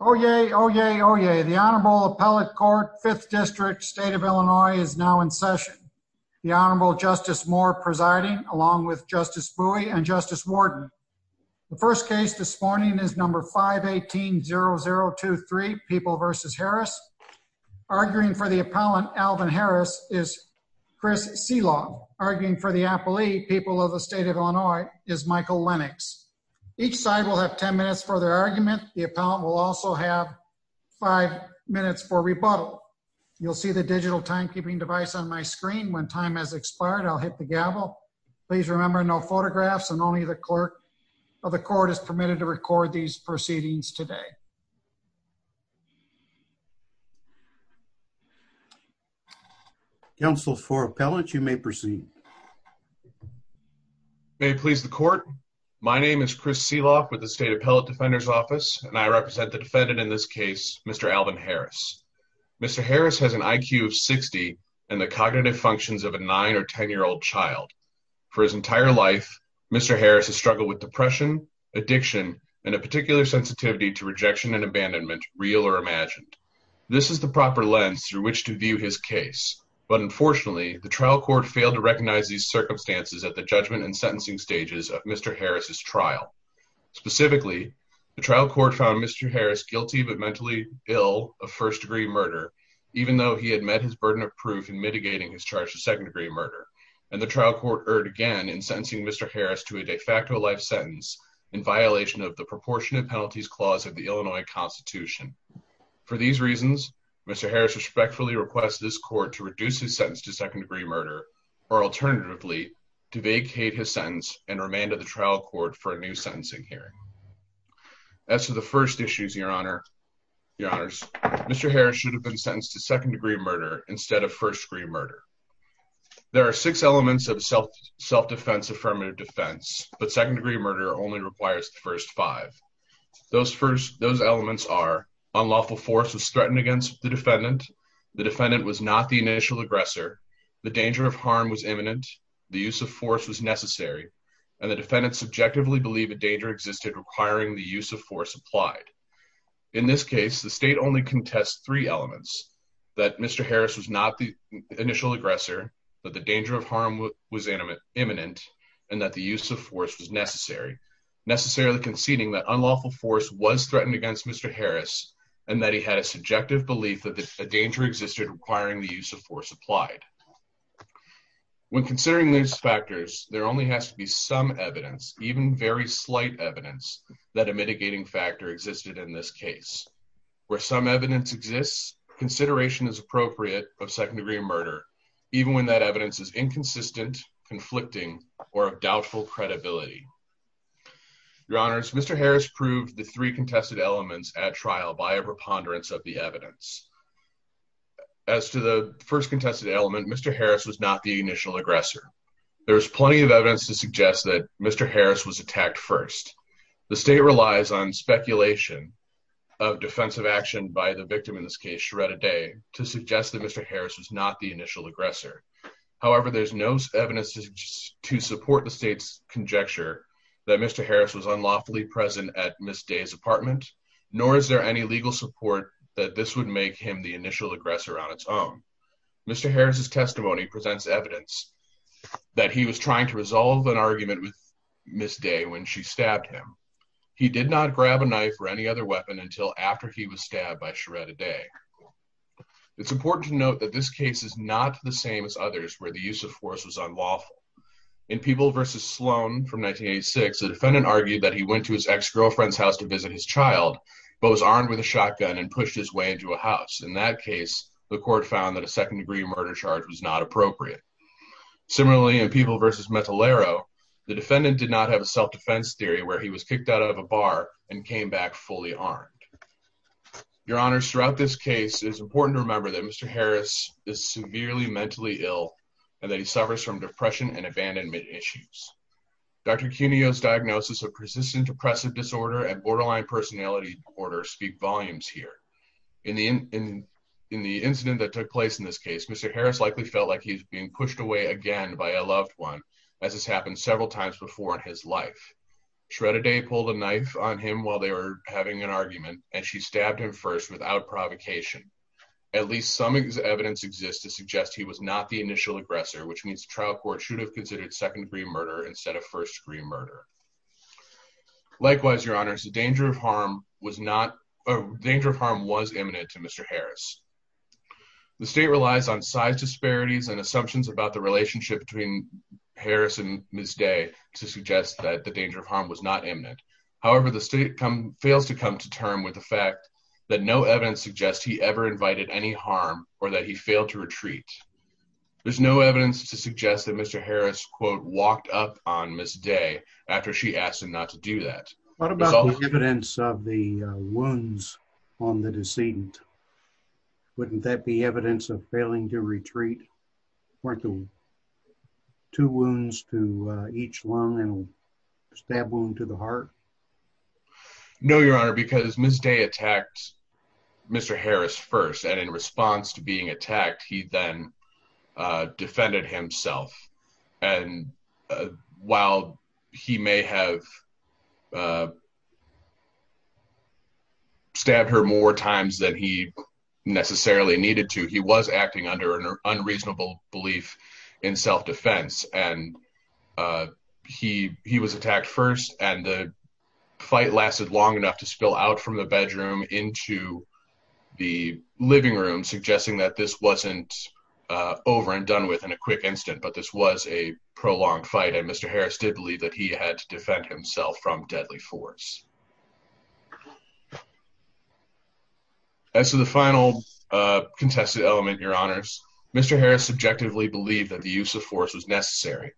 Oh, yay. Oh, yay. Oh, yay. The Honorable Appellate Court Fifth District State of Illinois is now in session. The Honorable Justice Moore presiding, along with Justice Bowie and Justice Warden. The first case this morning is number 518-0023, People v. Harris. Arguing for the appellant, Alvin Harris, is Chris Selog. Arguing for the appellee, People of the State of Illinois, is Michael Lennox. Each side will have 10 minutes for their argument. The appellant will also have five minutes for rebuttal. You'll see the digital timekeeping device on my screen. When time has expired, I'll hit the gavel. Please remember, no photographs, and only the clerk of the court is permitted to record these proceedings today. Counsel, for appellant, you may proceed. May it please the court, my name is Chris Selog with the State Appellate Defender's Office, and I represent the defendant in this case, Mr. Alvin Harris. Mr. Harris has an IQ of 60 and the cognitive functions of a 9 or 10-year-old child. For his entire life, Mr. Harris has struggled with depression, addiction, and a particular sensitivity to rejection and abandonment, real or imagined. This is the proper lens through which to view his case, but unfortunately, the trial court failed to recognize these circumstances at the judgment and sentencing stages of Mr. Harris's trial. Specifically, the trial court found Mr. Harris guilty but mentally ill of first-degree murder, even though he had met his burden of proof in mitigating his charge of second-degree murder, and the trial court erred in sentencing Mr. Harris to a de facto life sentence in violation of the Proportionate Penalties Clause of the Illinois Constitution. For these reasons, Mr. Harris respectfully requests this court to reduce his sentence to second-degree murder or, alternatively, to vacate his sentence and remand of the trial court for a new sentencing hearing. As to the first issues, Mr. Harris should have been sentenced to second-degree murder instead of first-degree murder. There are six elements of self-defense affirmative defense, but second-degree murder only requires the first five. Those elements are unlawful force was threatened against the defendant, the defendant was not the initial aggressor, the danger of harm was imminent, the use of force was necessary, and the defendant subjectively believed a danger existed requiring the use of force applied. In this case, the state only contests three elements, that Mr. Harris was not the initial aggressor, that the danger of harm was imminent, and that the use of force was necessary, necessarily conceding that unlawful force was threatened against Mr. Harris and that he had a subjective belief that a danger existed requiring the use of force applied. When considering these factors, there only has to be some evidence, even very slight evidence, that a mitigating factor existed in this case. Where some evidence exists, consideration is necessary to determine whether or not Mr. Harris was the initial aggressor in the second-degree murder, even when that evidence is inconsistent, conflicting, or of doubtful credibility. Your Honors, Mr. Harris proved the three contested elements at trial by a preponderance of the evidence. As to the first contested element, Mr. Harris was not the initial aggressor. There is plenty of evidence to suggest that Mr. Harris was attacked first. The state relies on evidence that Mr. Harris was not the initial aggressor. However, there's no evidence to support the state's conjecture that Mr. Harris was unlawfully present at Ms. Day's apartment, nor is there any legal support that this would make him the initial aggressor on its own. Mr. Harris's testimony presents evidence that he was trying to resolve an argument with Ms. Day when she stabbed him. He did not grab a knife or any other weapon until after he was stabbed by Ms. Day. However, this case is not the same as others where the use of force was unlawful. In Peeble v. Sloan from 1986, the defendant argued that he went to his ex-girlfriend's house to visit his child, but was armed with a shotgun and pushed his way into a house. In that case, the court found that a second-degree murder charge was not appropriate. Similarly, in Peeble v. Metallero, the defendant did not have a self-defense theory where he was kicked out of a bar and came back fully armed. Your Honors, throughout this case, it is important to remember that Mr. Harris is severely mentally ill and that he suffers from depression and abandonment issues. Dr. Cuneo's diagnosis of Persistent Depressive Disorder and Borderline Personality Disorder speak volumes here. In the incident that took place in this case, Mr. Harris likely felt like he was being pushed away again by a loved one, as has happened several times before in his life. Shredda Day pulled a knife on him while they were having an argument. At least some evidence exists to suggest he was not the initial aggressor, which means the trial court should have considered second-degree murder instead of first-degree murder. Likewise, Your Honors, the danger of harm was imminent to Mr. Harris. The state relies on size disparities and assumptions about the relationship between Harris and Ms. Day to suggest that the danger of harm was not imminent. However, the state fails to come to terms with the fact that no evidence suggests he ever invited any harm or that he failed to retreat. There is no evidence to suggest that Mr. Harris, quote, walked up on Ms. Day after she asked him not to do that. What about the evidence of the wounds on the decedent? Wouldn't that be evidence of failing to retreat? Two wounds to each lung and a stab wound to the head. No, Your Honor, because Ms. Day attacked Mr. Harris first, and in response to being attacked, he then defended himself. And while he may have stabbed her more times than he necessarily needed to, he was acting under an unreasonable belief in self-defense. And he was attacked first, and the fight lasted long enough to spill out from the bedroom into the living room, suggesting that this wasn't over and done with in a quick instant, but this was a prolonged fight, and Mr. Harris did believe that he had to defend himself from deadly force. As to the final contested element, Your Honors, Mr. Harris subjectively believed that the use of force was necessary.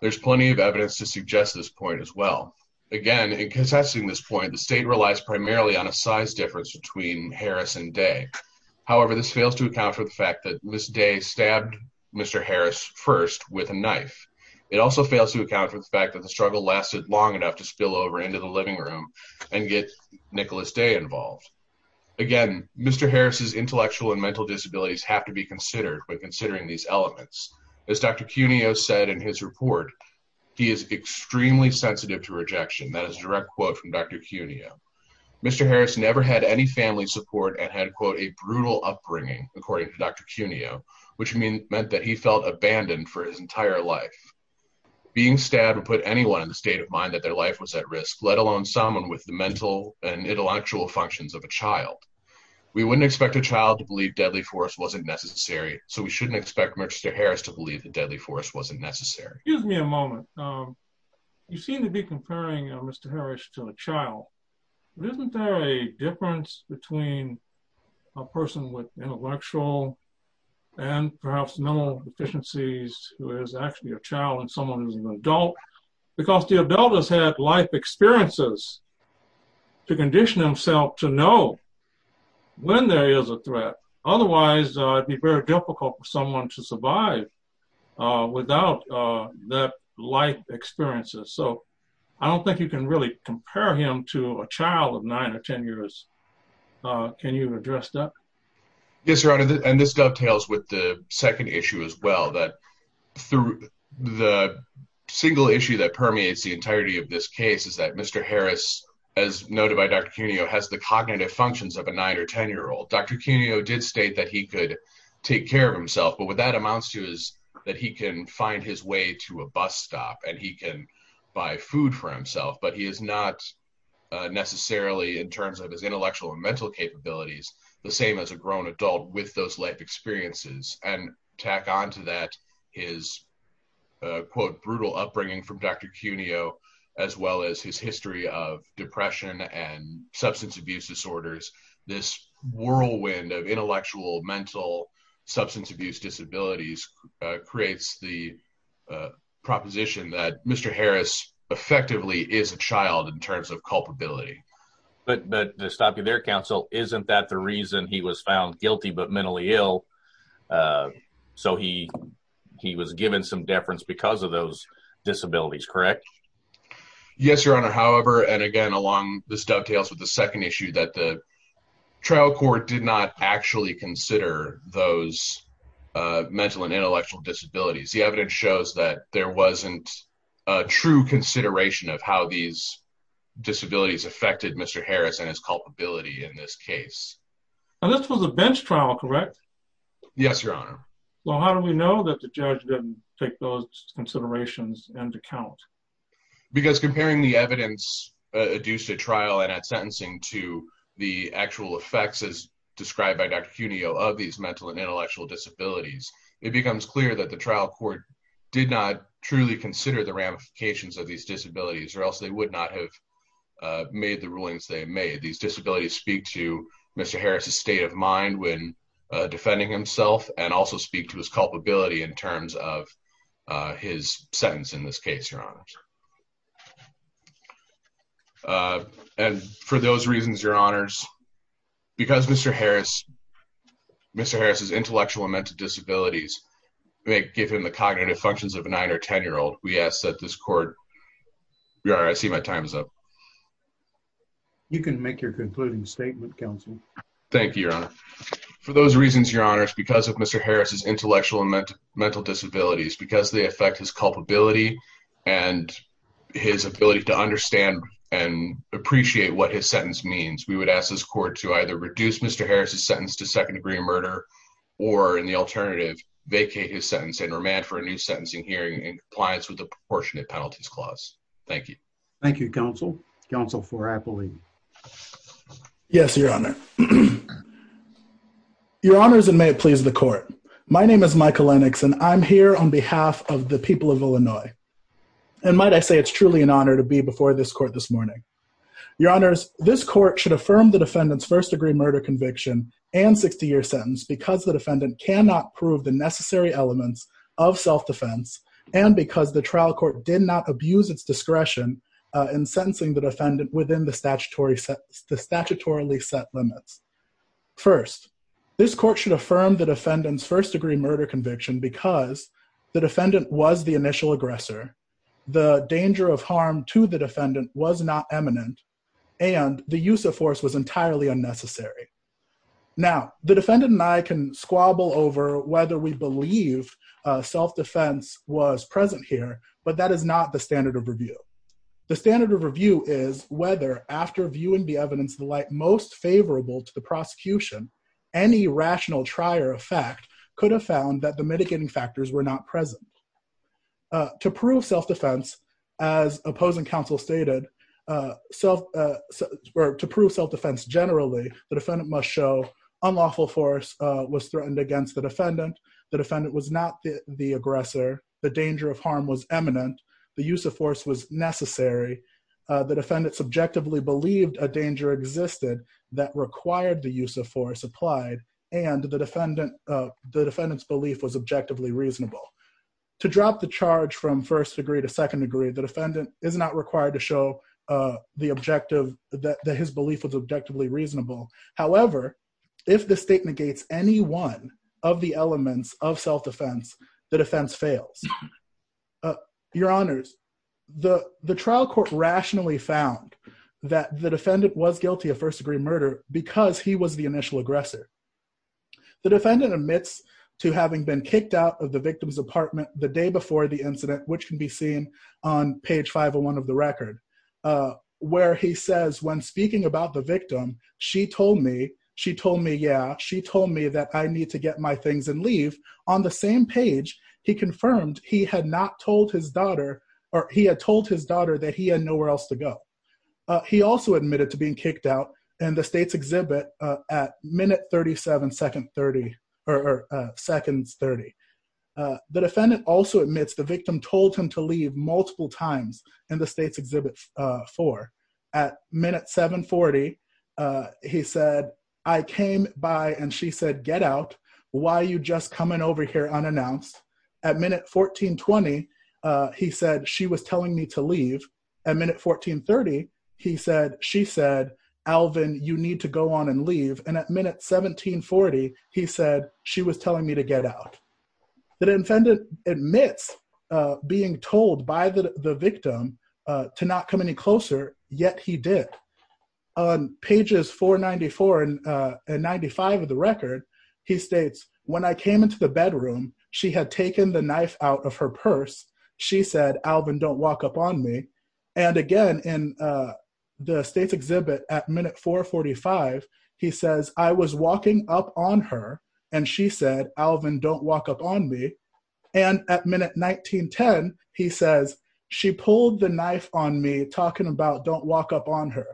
There's plenty of evidence to suggest this point as well. Again, in contesting this point, the state relies primarily on a size difference between Harris and Day. However, this fails to account for the fact that Ms. Day stabbed Mr. Harris first with a knife. It also fails to account for the fact that the struggle lasted long enough to spill over into the living room and get Nicholas Day involved. Again, Mr. Harris's intellectual and mental disabilities have to be considered when considering these elements. As Dr. Cuneo said in his report, he is extremely sensitive to rejection. That is a direct quote from Dr. Cuneo. Mr. Harris never had any family support and had, quote, a brutal upbringing, according to Dr. Cuneo, which meant that he felt abandoned for his entire life. Being stabbed would put anyone in the state of mind that their life was at risk, let alone someone with the mental and intellectual functions of a child. We wouldn't expect a child to believe deadly force wasn't necessary, so we shouldn't expect Mr. Harris to believe that deadly force wasn't necessary. Excuse me a moment. You seem to be comparing Mr. Harris to a child. Isn't there a difference between a person with intellectual and perhaps mental deficiencies who is actually a child and someone who is an adult? Because the adult has had life experiences to condition himself to know when there is a threat. Otherwise, it would be very difficult for someone to survive without that life experience. I don't think you can really compare him to a child of nine or 10 years. Can you address that? Yes, Your Honor, and this dovetails with the second issue as well. The single issue that permeates the entirety of this case is that Mr. Harris, as noted by Dr. Cuneo, has the cognitive functions of a nine or 10-year-old. Dr. Cuneo did state that he could take care of himself, but what that amounts to is that he can find his way to a bus stop and he can buy food for himself, but he is not necessarily, in terms of his intellectual and mental capabilities, the same as a grown adult with those life experiences. Tack on to that is, quote, brutal upbringing from Dr. Cuneo, as well as his history of depression and substance abuse disorders. This whirlwind of intellectual, mental, substance abuse disabilities creates the proposition that Mr. Harris effectively is a child in terms of culpability. But to stop you there, counsel, isn't that the reason he was found guilty but mentally ill? So he was given some deference because of those disabilities, correct? Yes, Your Honor, however, and again, along this dovetails with the second issue that the mental and intellectual disabilities, the evidence shows that there wasn't a true consideration of how these disabilities affected Mr. Harris and his culpability in this case. And this was a bench trial, correct? Yes, Your Honor. Well, how do we know that the judge didn't take those considerations into account? Because comparing the evidence adduced at trial and at sentencing to the actual effects as mental and intellectual disabilities, it becomes clear that the trial court did not truly consider the ramifications of these disabilities or else they would not have made the rulings they made. These disabilities speak to Mr. Harris's state of mind when defending himself and also speak to his culpability in terms of his sentence in this case, Your Honor. And for those reasons, Your Honors, because Mr. Harris, Mr. Harris's intellectual and mental disabilities may give him the cognitive functions of a nine or ten-year-old, we ask that this court, Your Honor, I see my time is up. You can make your concluding statement, counsel. Thank you, Your Honor. For those reasons, Your Honors, because of Mr. Harris's intellectual and mental disabilities, because they affect his culpability and his state of mind, his ability to understand and appreciate what his sentence means, we would ask this court to either reduce Mr. Harris's sentence to second-degree murder or, in the alternative, vacate his sentence and remand for a new sentencing hearing in compliance with the Proportionate Penalties Clause. Thank you. Thank you, counsel, counsel for Appleby. Yes, Your Honor. Your Honors, and may it please the court. My name is Michael Lennox, and I'm here on behalf of the people of Illinois. And might I say it's truly an honor to be before this court this morning. Your Honors, this court should affirm the defendant's first-degree murder conviction and 60-year sentence because the defendant cannot prove the necessary elements of self-defense and because the trial court did not abuse its discretion in sentencing the defendant within the statutorily set limits. First, this court should affirm the defendant's first-degree murder conviction because the defendant was the initial aggressor, the danger of harm to the defendant was not eminent, and the use of force was entirely unnecessary. Now, the defendant and I can squabble over whether we believe self-defense was present here, but that is not the standard of review. The standard of review is whether, after viewing the evidence the like most favorable to the defendant, self-defense was present or not present. To prove self-defense, as opposing counsel stated, to prove self-defense generally, the defendant must show unlawful force was threatened against the defendant, the defendant was not the aggressor, the danger of harm was eminent, the use of force was necessary, the defendant subjectively believed a danger existed that required the use of force applied, and the defendant's belief was objectively reasonable. To drop the charge from first degree to second degree, the defendant is not required to show the objective that his belief was objectively reasonable. However, if the state negates any one of the elements of self-defense, the defense fails. Your honors, the trial court rationally found that the defendant was guilty of first-degree murder because he was the initial aggressor. The defendant admits to having been kicked out of the victim's apartment the day before the incident, which can be seen on page 501 of the record, where he says, when speaking about the victim, she told me, she told me, yeah, she told me that I need to get my things and leave. On the same page, he confirmed he had not told his daughter, or he had told his daughter that he had nowhere else to go. He also admitted to being kicked out in the state's exhibit at minute 37, seconds 30. The defendant also admits the victim told him to leave multiple times in the state's exhibit 4. At minute 740, he said, I came by and she said, get out. Why are you just coming over here unannounced? At minute 1420, he said, she was telling me to leave. At minute 1430, he said, she said, Alvin, you need to go on and leave. And at minute 1740, he said, she was telling me to get out. The defendant admits being told by the victim to not come any closer, yet he did. On pages 494 and 95 of the record, he states, when I came into the bedroom, she had taken the knife out of her purse. She said, Alvin, don't walk up on me. And again, in the state's exhibit at minute 445, he says, I was walking up on her. And she said, Alvin, don't walk up on me. And at minute 1910, he says, she pulled the knife on me talking about don't walk up on her.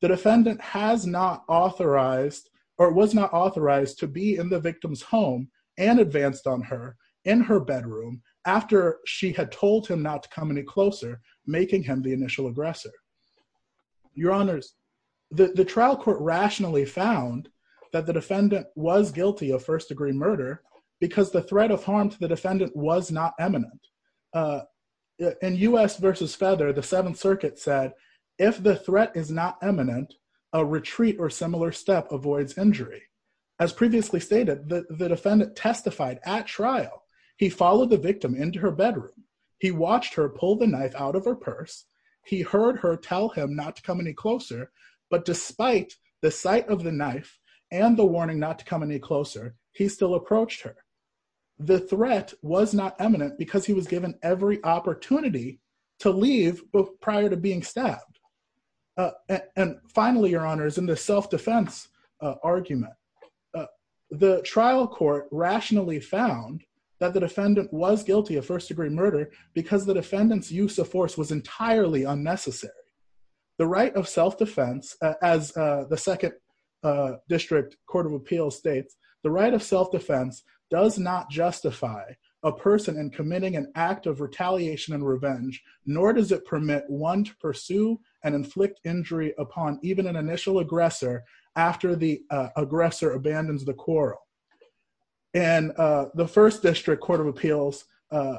The defendant has not authorized or was not authorized to be in the victim's home and advanced on her in her bedroom after she had told him not to come any closer, making him the initial aggressor. Your honors, the trial court rationally found that the defendant was guilty of first degree murder because the threat of harm to the defendant was not eminent. In U.S. versus Feather, the Seventh Circuit said, if the threat is not eminent, a retreat or similar step avoids injury. As previously stated, the defendant testified at trial. He followed the victim into her bedroom. He watched her pull the knife out of her purse. He heard her tell him not to come any closer. But despite the sight of the knife and the warning not to come any closer, he still approached her. The threat was not eminent because he was given every opportunity to leave prior to being stabbed. And finally, your honors, in the self-defense argument, the trial court rationally found that the defendant was guilty of first degree murder because the defendant's use of force was entirely unnecessary. The right of self-defense, as the Second District Court of Appeals states, the right of self-defense does not justify a person in committing an act of retaliation and revenge, nor does it permit one to pursue and inflict injury upon even an initial aggressor after the aggressor abandons the quarrel. And the First District Court of Appeals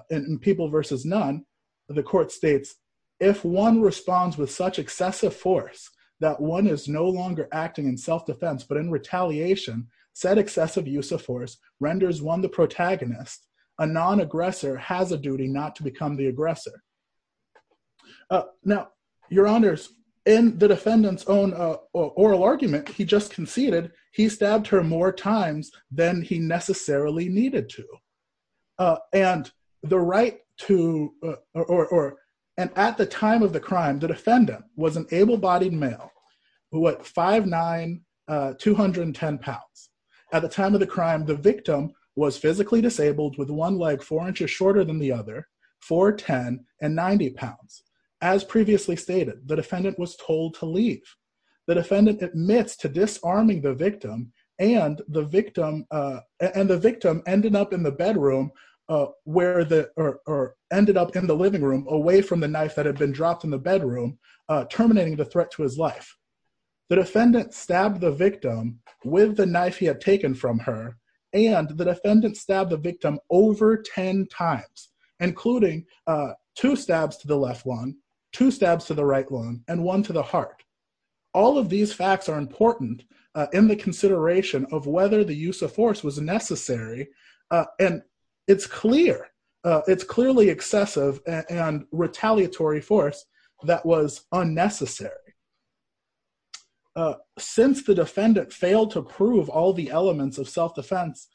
in People versus None, the court states, if one responds with such excessive force that one is no longer acting in self-defense but in retaliation, said excessive use of force renders one the protagonist, a non-aggressor has a duty not to become the aggressor. Now, your honors, in the defendant's own oral argument, he just conceded he stabbed her more times than he necessarily needed to. And the right to, or, and at the time of the crime, the defendant was an able-bodied male who weighed 5'9", 210 pounds. At the time of the crime, the victim was physically disabled with one leg four inches shorter than the other, 4'10", and 90 pounds. As previously stated, the defendant was told to leave. The defendant admits to disarming the victim and the victim ended up in the bedroom where the, or ended up in the living room away from the knife that had been dropped in the bedroom, terminating the threat to his life. The defendant stabbed the victim with the knife he had taken from her, and the defendant stabbed the victim over 10 times, including two stabs to the left lung, two stabs to the right lung, and one to the heart. All of these facts are important in the consideration of whether the use of force was necessary, and it's clear, it's clearly excessive and retaliatory force that was unnecessary. Since the defendant failed to prove all the elements of self-defense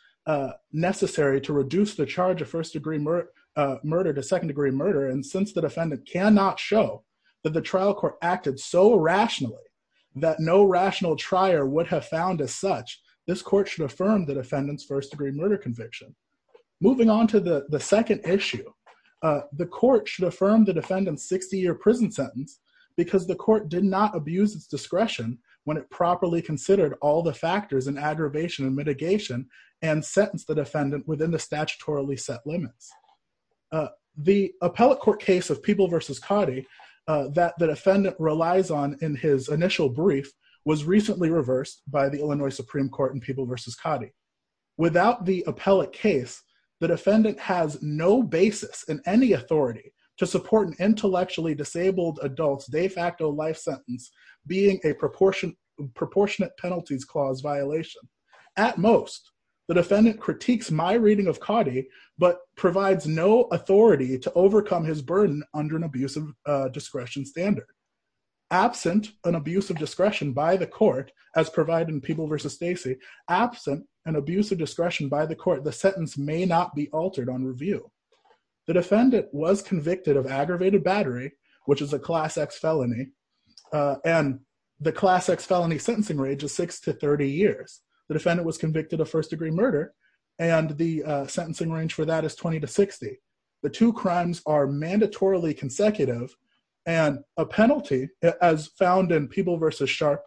necessary to reduce the charge of first-degree murder to second-degree murder, and since the defendant cannot show that the trial court acted so rationally that no rational trier would have found as such, this court should affirm the defendant's first-degree murder conviction. Moving on to the second issue, the court should affirm the defendant's 60-year prison sentence because the court did not abuse its discretion when it properly considered all the factors in aggravation and mitigation and sentenced the defendant within the statutorily set limits. The appellate court case of Peeble v. Coddy that the defendant relies on in his initial brief without the appellate case, the defendant has no basis in any authority to support an intellectually disabled adult's de facto life sentence being a proportionate penalties clause violation. At most, the defendant critiques my reading of Coddy, but provides no authority to overcome his burden under an abuse of discretion standard. Absent an abuse of discretion by the court, as provided in Peeble v. Stacey, absent an abuse of discretion by the court, the sentence may not be altered on review. The defendant was convicted of aggravated battery, which is a class X felony, and the class X felony sentencing range is six to 30 years. The defendant was convicted of first-degree murder and the sentencing range for that is 20 to 60. The two crimes are mandatorily consecutive and a penalty as found in Peeble v. Sharp,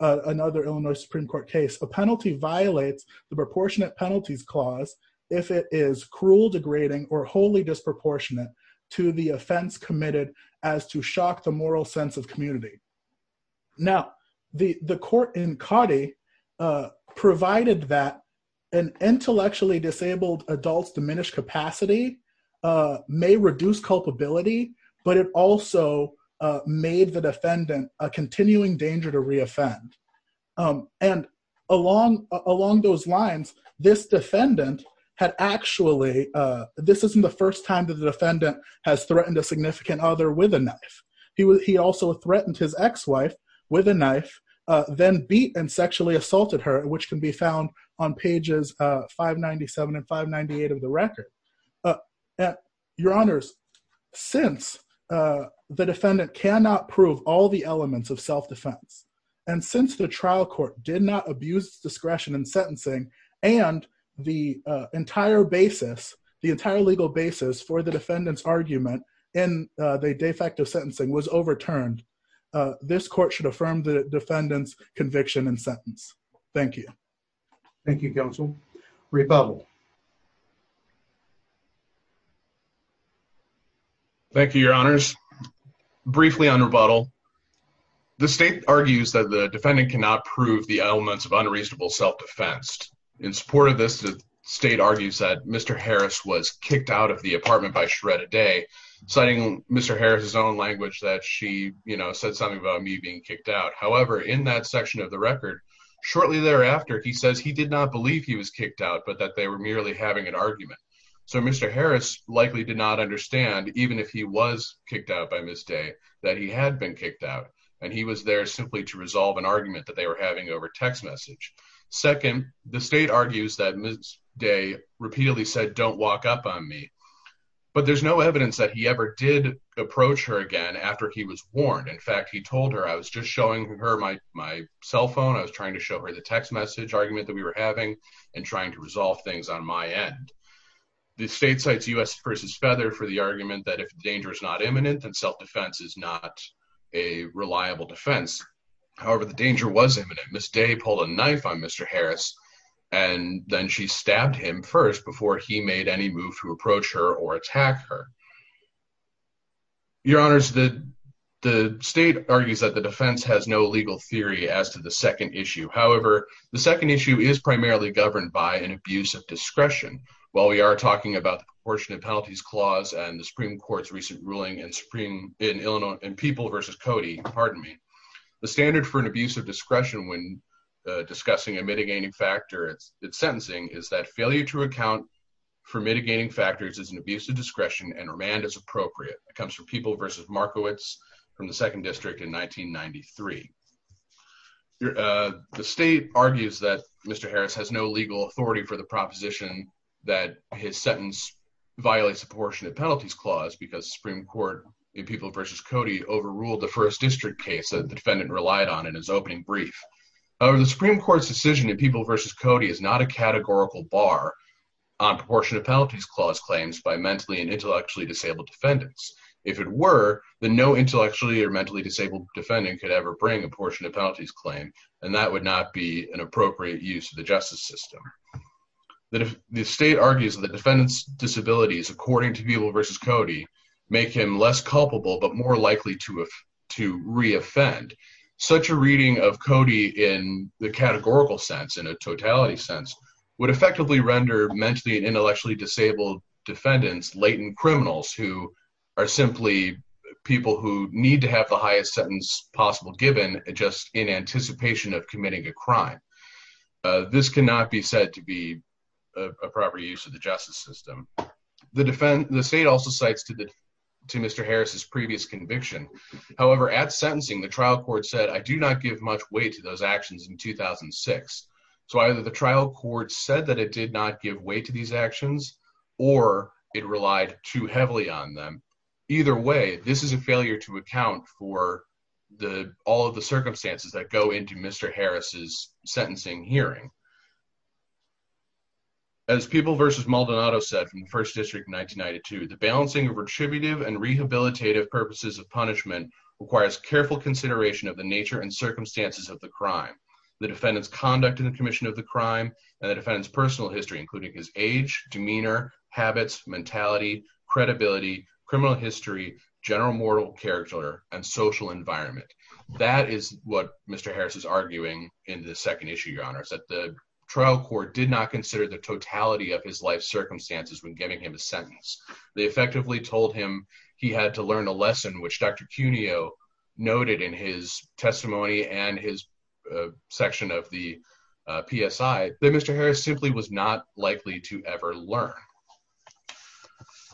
another Illinois Supreme Court case, a penalty violates the proportionate penalties clause if it is cruel, degrading, or wholly disproportionate to the offense committed as to shock the moral sense of community. Now, the court in Coddy provided that an intellectually disabled adult's diminished capacity may reduce culpability, but it also made the defendant a continuing danger to re-offend. And along those lines, this defendant had actually, this isn't the first time that the defendant has threatened a significant other with a knife. He also threatened his ex-wife with a knife, then beat and sexually assaulted her, which can be found on pages 597 and 598 of the record. Your honors, since the defendant cannot prove all the elements of self-defense and since the trial court did not abuse discretion in sentencing and the entire basis, the entire legal basis for the defendant's argument in the de facto sentencing was overturned, this court should affirm the defendant's conviction and sentence. Thank you. Thank you, counsel. Rebuttal. Thank you, your honors. Briefly on rebuttal. The state argues that the defendant cannot prove the elements of unreasonable self-defense. In support of this, the state argues that Mr. Harris was kicked out of the apartment by Shredda Day, citing Mr. Harris's own language that she said something about me being kicked out. However, in that section of the record, shortly thereafter, he says he did not believe he was kicked out, but that they were merely having an argument. So Mr. Harris likely did not understand, even if he was kicked out by Ms. Day, that he had been kicked out, and he was there simply to resolve an argument that they were having over text message. Second, the state argues that Ms. Day repeatedly said, don't walk up on me. But there's no evidence that he ever did approach her again after he was warned. In fact, he told her, I was just showing her my cell phone. I was trying to show her the text message argument that we were having and trying to resolve things on my end. The state cites U.S. v. Feather for the argument that if danger is not imminent, then self-defense is not a reliable defense. However, the danger was imminent. Ms. Day pulled a knife on Mr. Harris, and then she stabbed him first before he made any move to approach her or attack her. Your honors, the state argues that the defense has no legal theory as to the second issue. However, the second issue is primarily governed by an abuse of discretion. While we are talking about the Proportionate Penalties Clause and the Supreme Court's recent ruling in People v. Cody, the standard for an abuse of discretion when discussing a mitigating factor it's sentencing is that failure to account for mitigating factors is an abuse of discretion and remand is appropriate. It comes from People v. Markowitz from the Second District in 1993. The state argues that Mr. Harris has no legal authority for the proposition that his sentence violates the Proportionate Penalties Clause because Supreme Court in People v. Cody overruled the First District case that the defendant relied on in his opening brief. However, the Supreme Court's decision in People v. Cody is not a categorical bar on Proportionate Penalties Clause claims by mentally and intellectually disabled defendants. If it were, then no intellectually or mentally disabled defendant could ever bring a Proportionate Penalties Claim, and that would not be an appropriate use of the justice system. The state argues that defendants' disabilities, according to People v. Cody, make him less culpable but more likely to re-offend. Such a reading of Cody in the categorical sense, in a totality sense, would effectively render mentally and intellectually disabled defendants latent criminals who are simply people who need to have the highest sentence possible given just in anticipation of committing a crime. This cannot be said to be a proper use of the justice system. The state also cites to Mr. Harris' previous conviction. However, at sentencing, the trial court said, I do not give much weight to those actions in 2006. So either the trial court said that it did not give weight to these actions or it relied too heavily on them. Either way, this is a failure to account for all of the circumstances that go into Mr. Harris' sentencing hearing. As People v. Maldonado said from the First District of 1992, the balancing of retributive and rehabilitative purposes of punishment requires careful consideration of the nature and circumstances of the crime, the defendant's conduct in the commission of the crime, and the defendant's personal history, including his age, demeanor, habits, mentality, credibility, criminal history, general moral character, and social environment. That is what Mr. Harris is arguing in the second issue, Your Honors, that the trial court did not consider the totality of his life circumstances when giving him a sentence. They effectively told him he had to learn a lesson, which Dr. Cuneo noted in his testimony and his section of the PSI, that Mr. Harris simply was not likely to ever learn.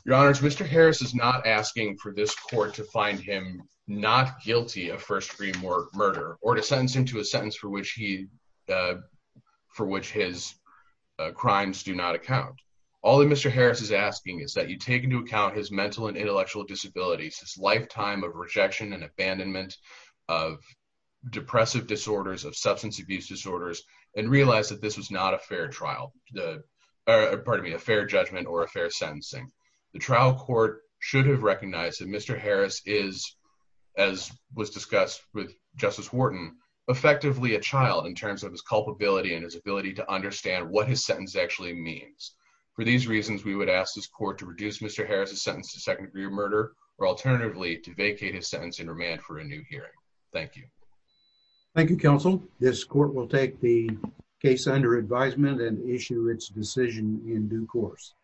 Your Honors, Mr. Harris is not asking for this court to find him not guilty of first degree murder or to sentence him to a sentence for which his crimes do not account. All that Mr. Harris is asking is that he take into account his mental and intellectual disabilities, his lifetime of rejection and abandonment of depressive disorders, of substance abuse disorders, and realize that this was not a fair trial, pardon me, a fair judgment or a fair sentencing. The trial court should have recognized that Mr. Harris is, as was discussed with Justice Wharton, effectively a child in terms of his culpability and his ability to understand what his sentence actually means. For these reasons, we would ask this court to reduce Mr. Harris' sentence to second degree murder or alternatively to vacate his sentence and remand for a new hearing. Thank you. Thank you, counsel. This court will take the case under advisement and issue its decision in due course.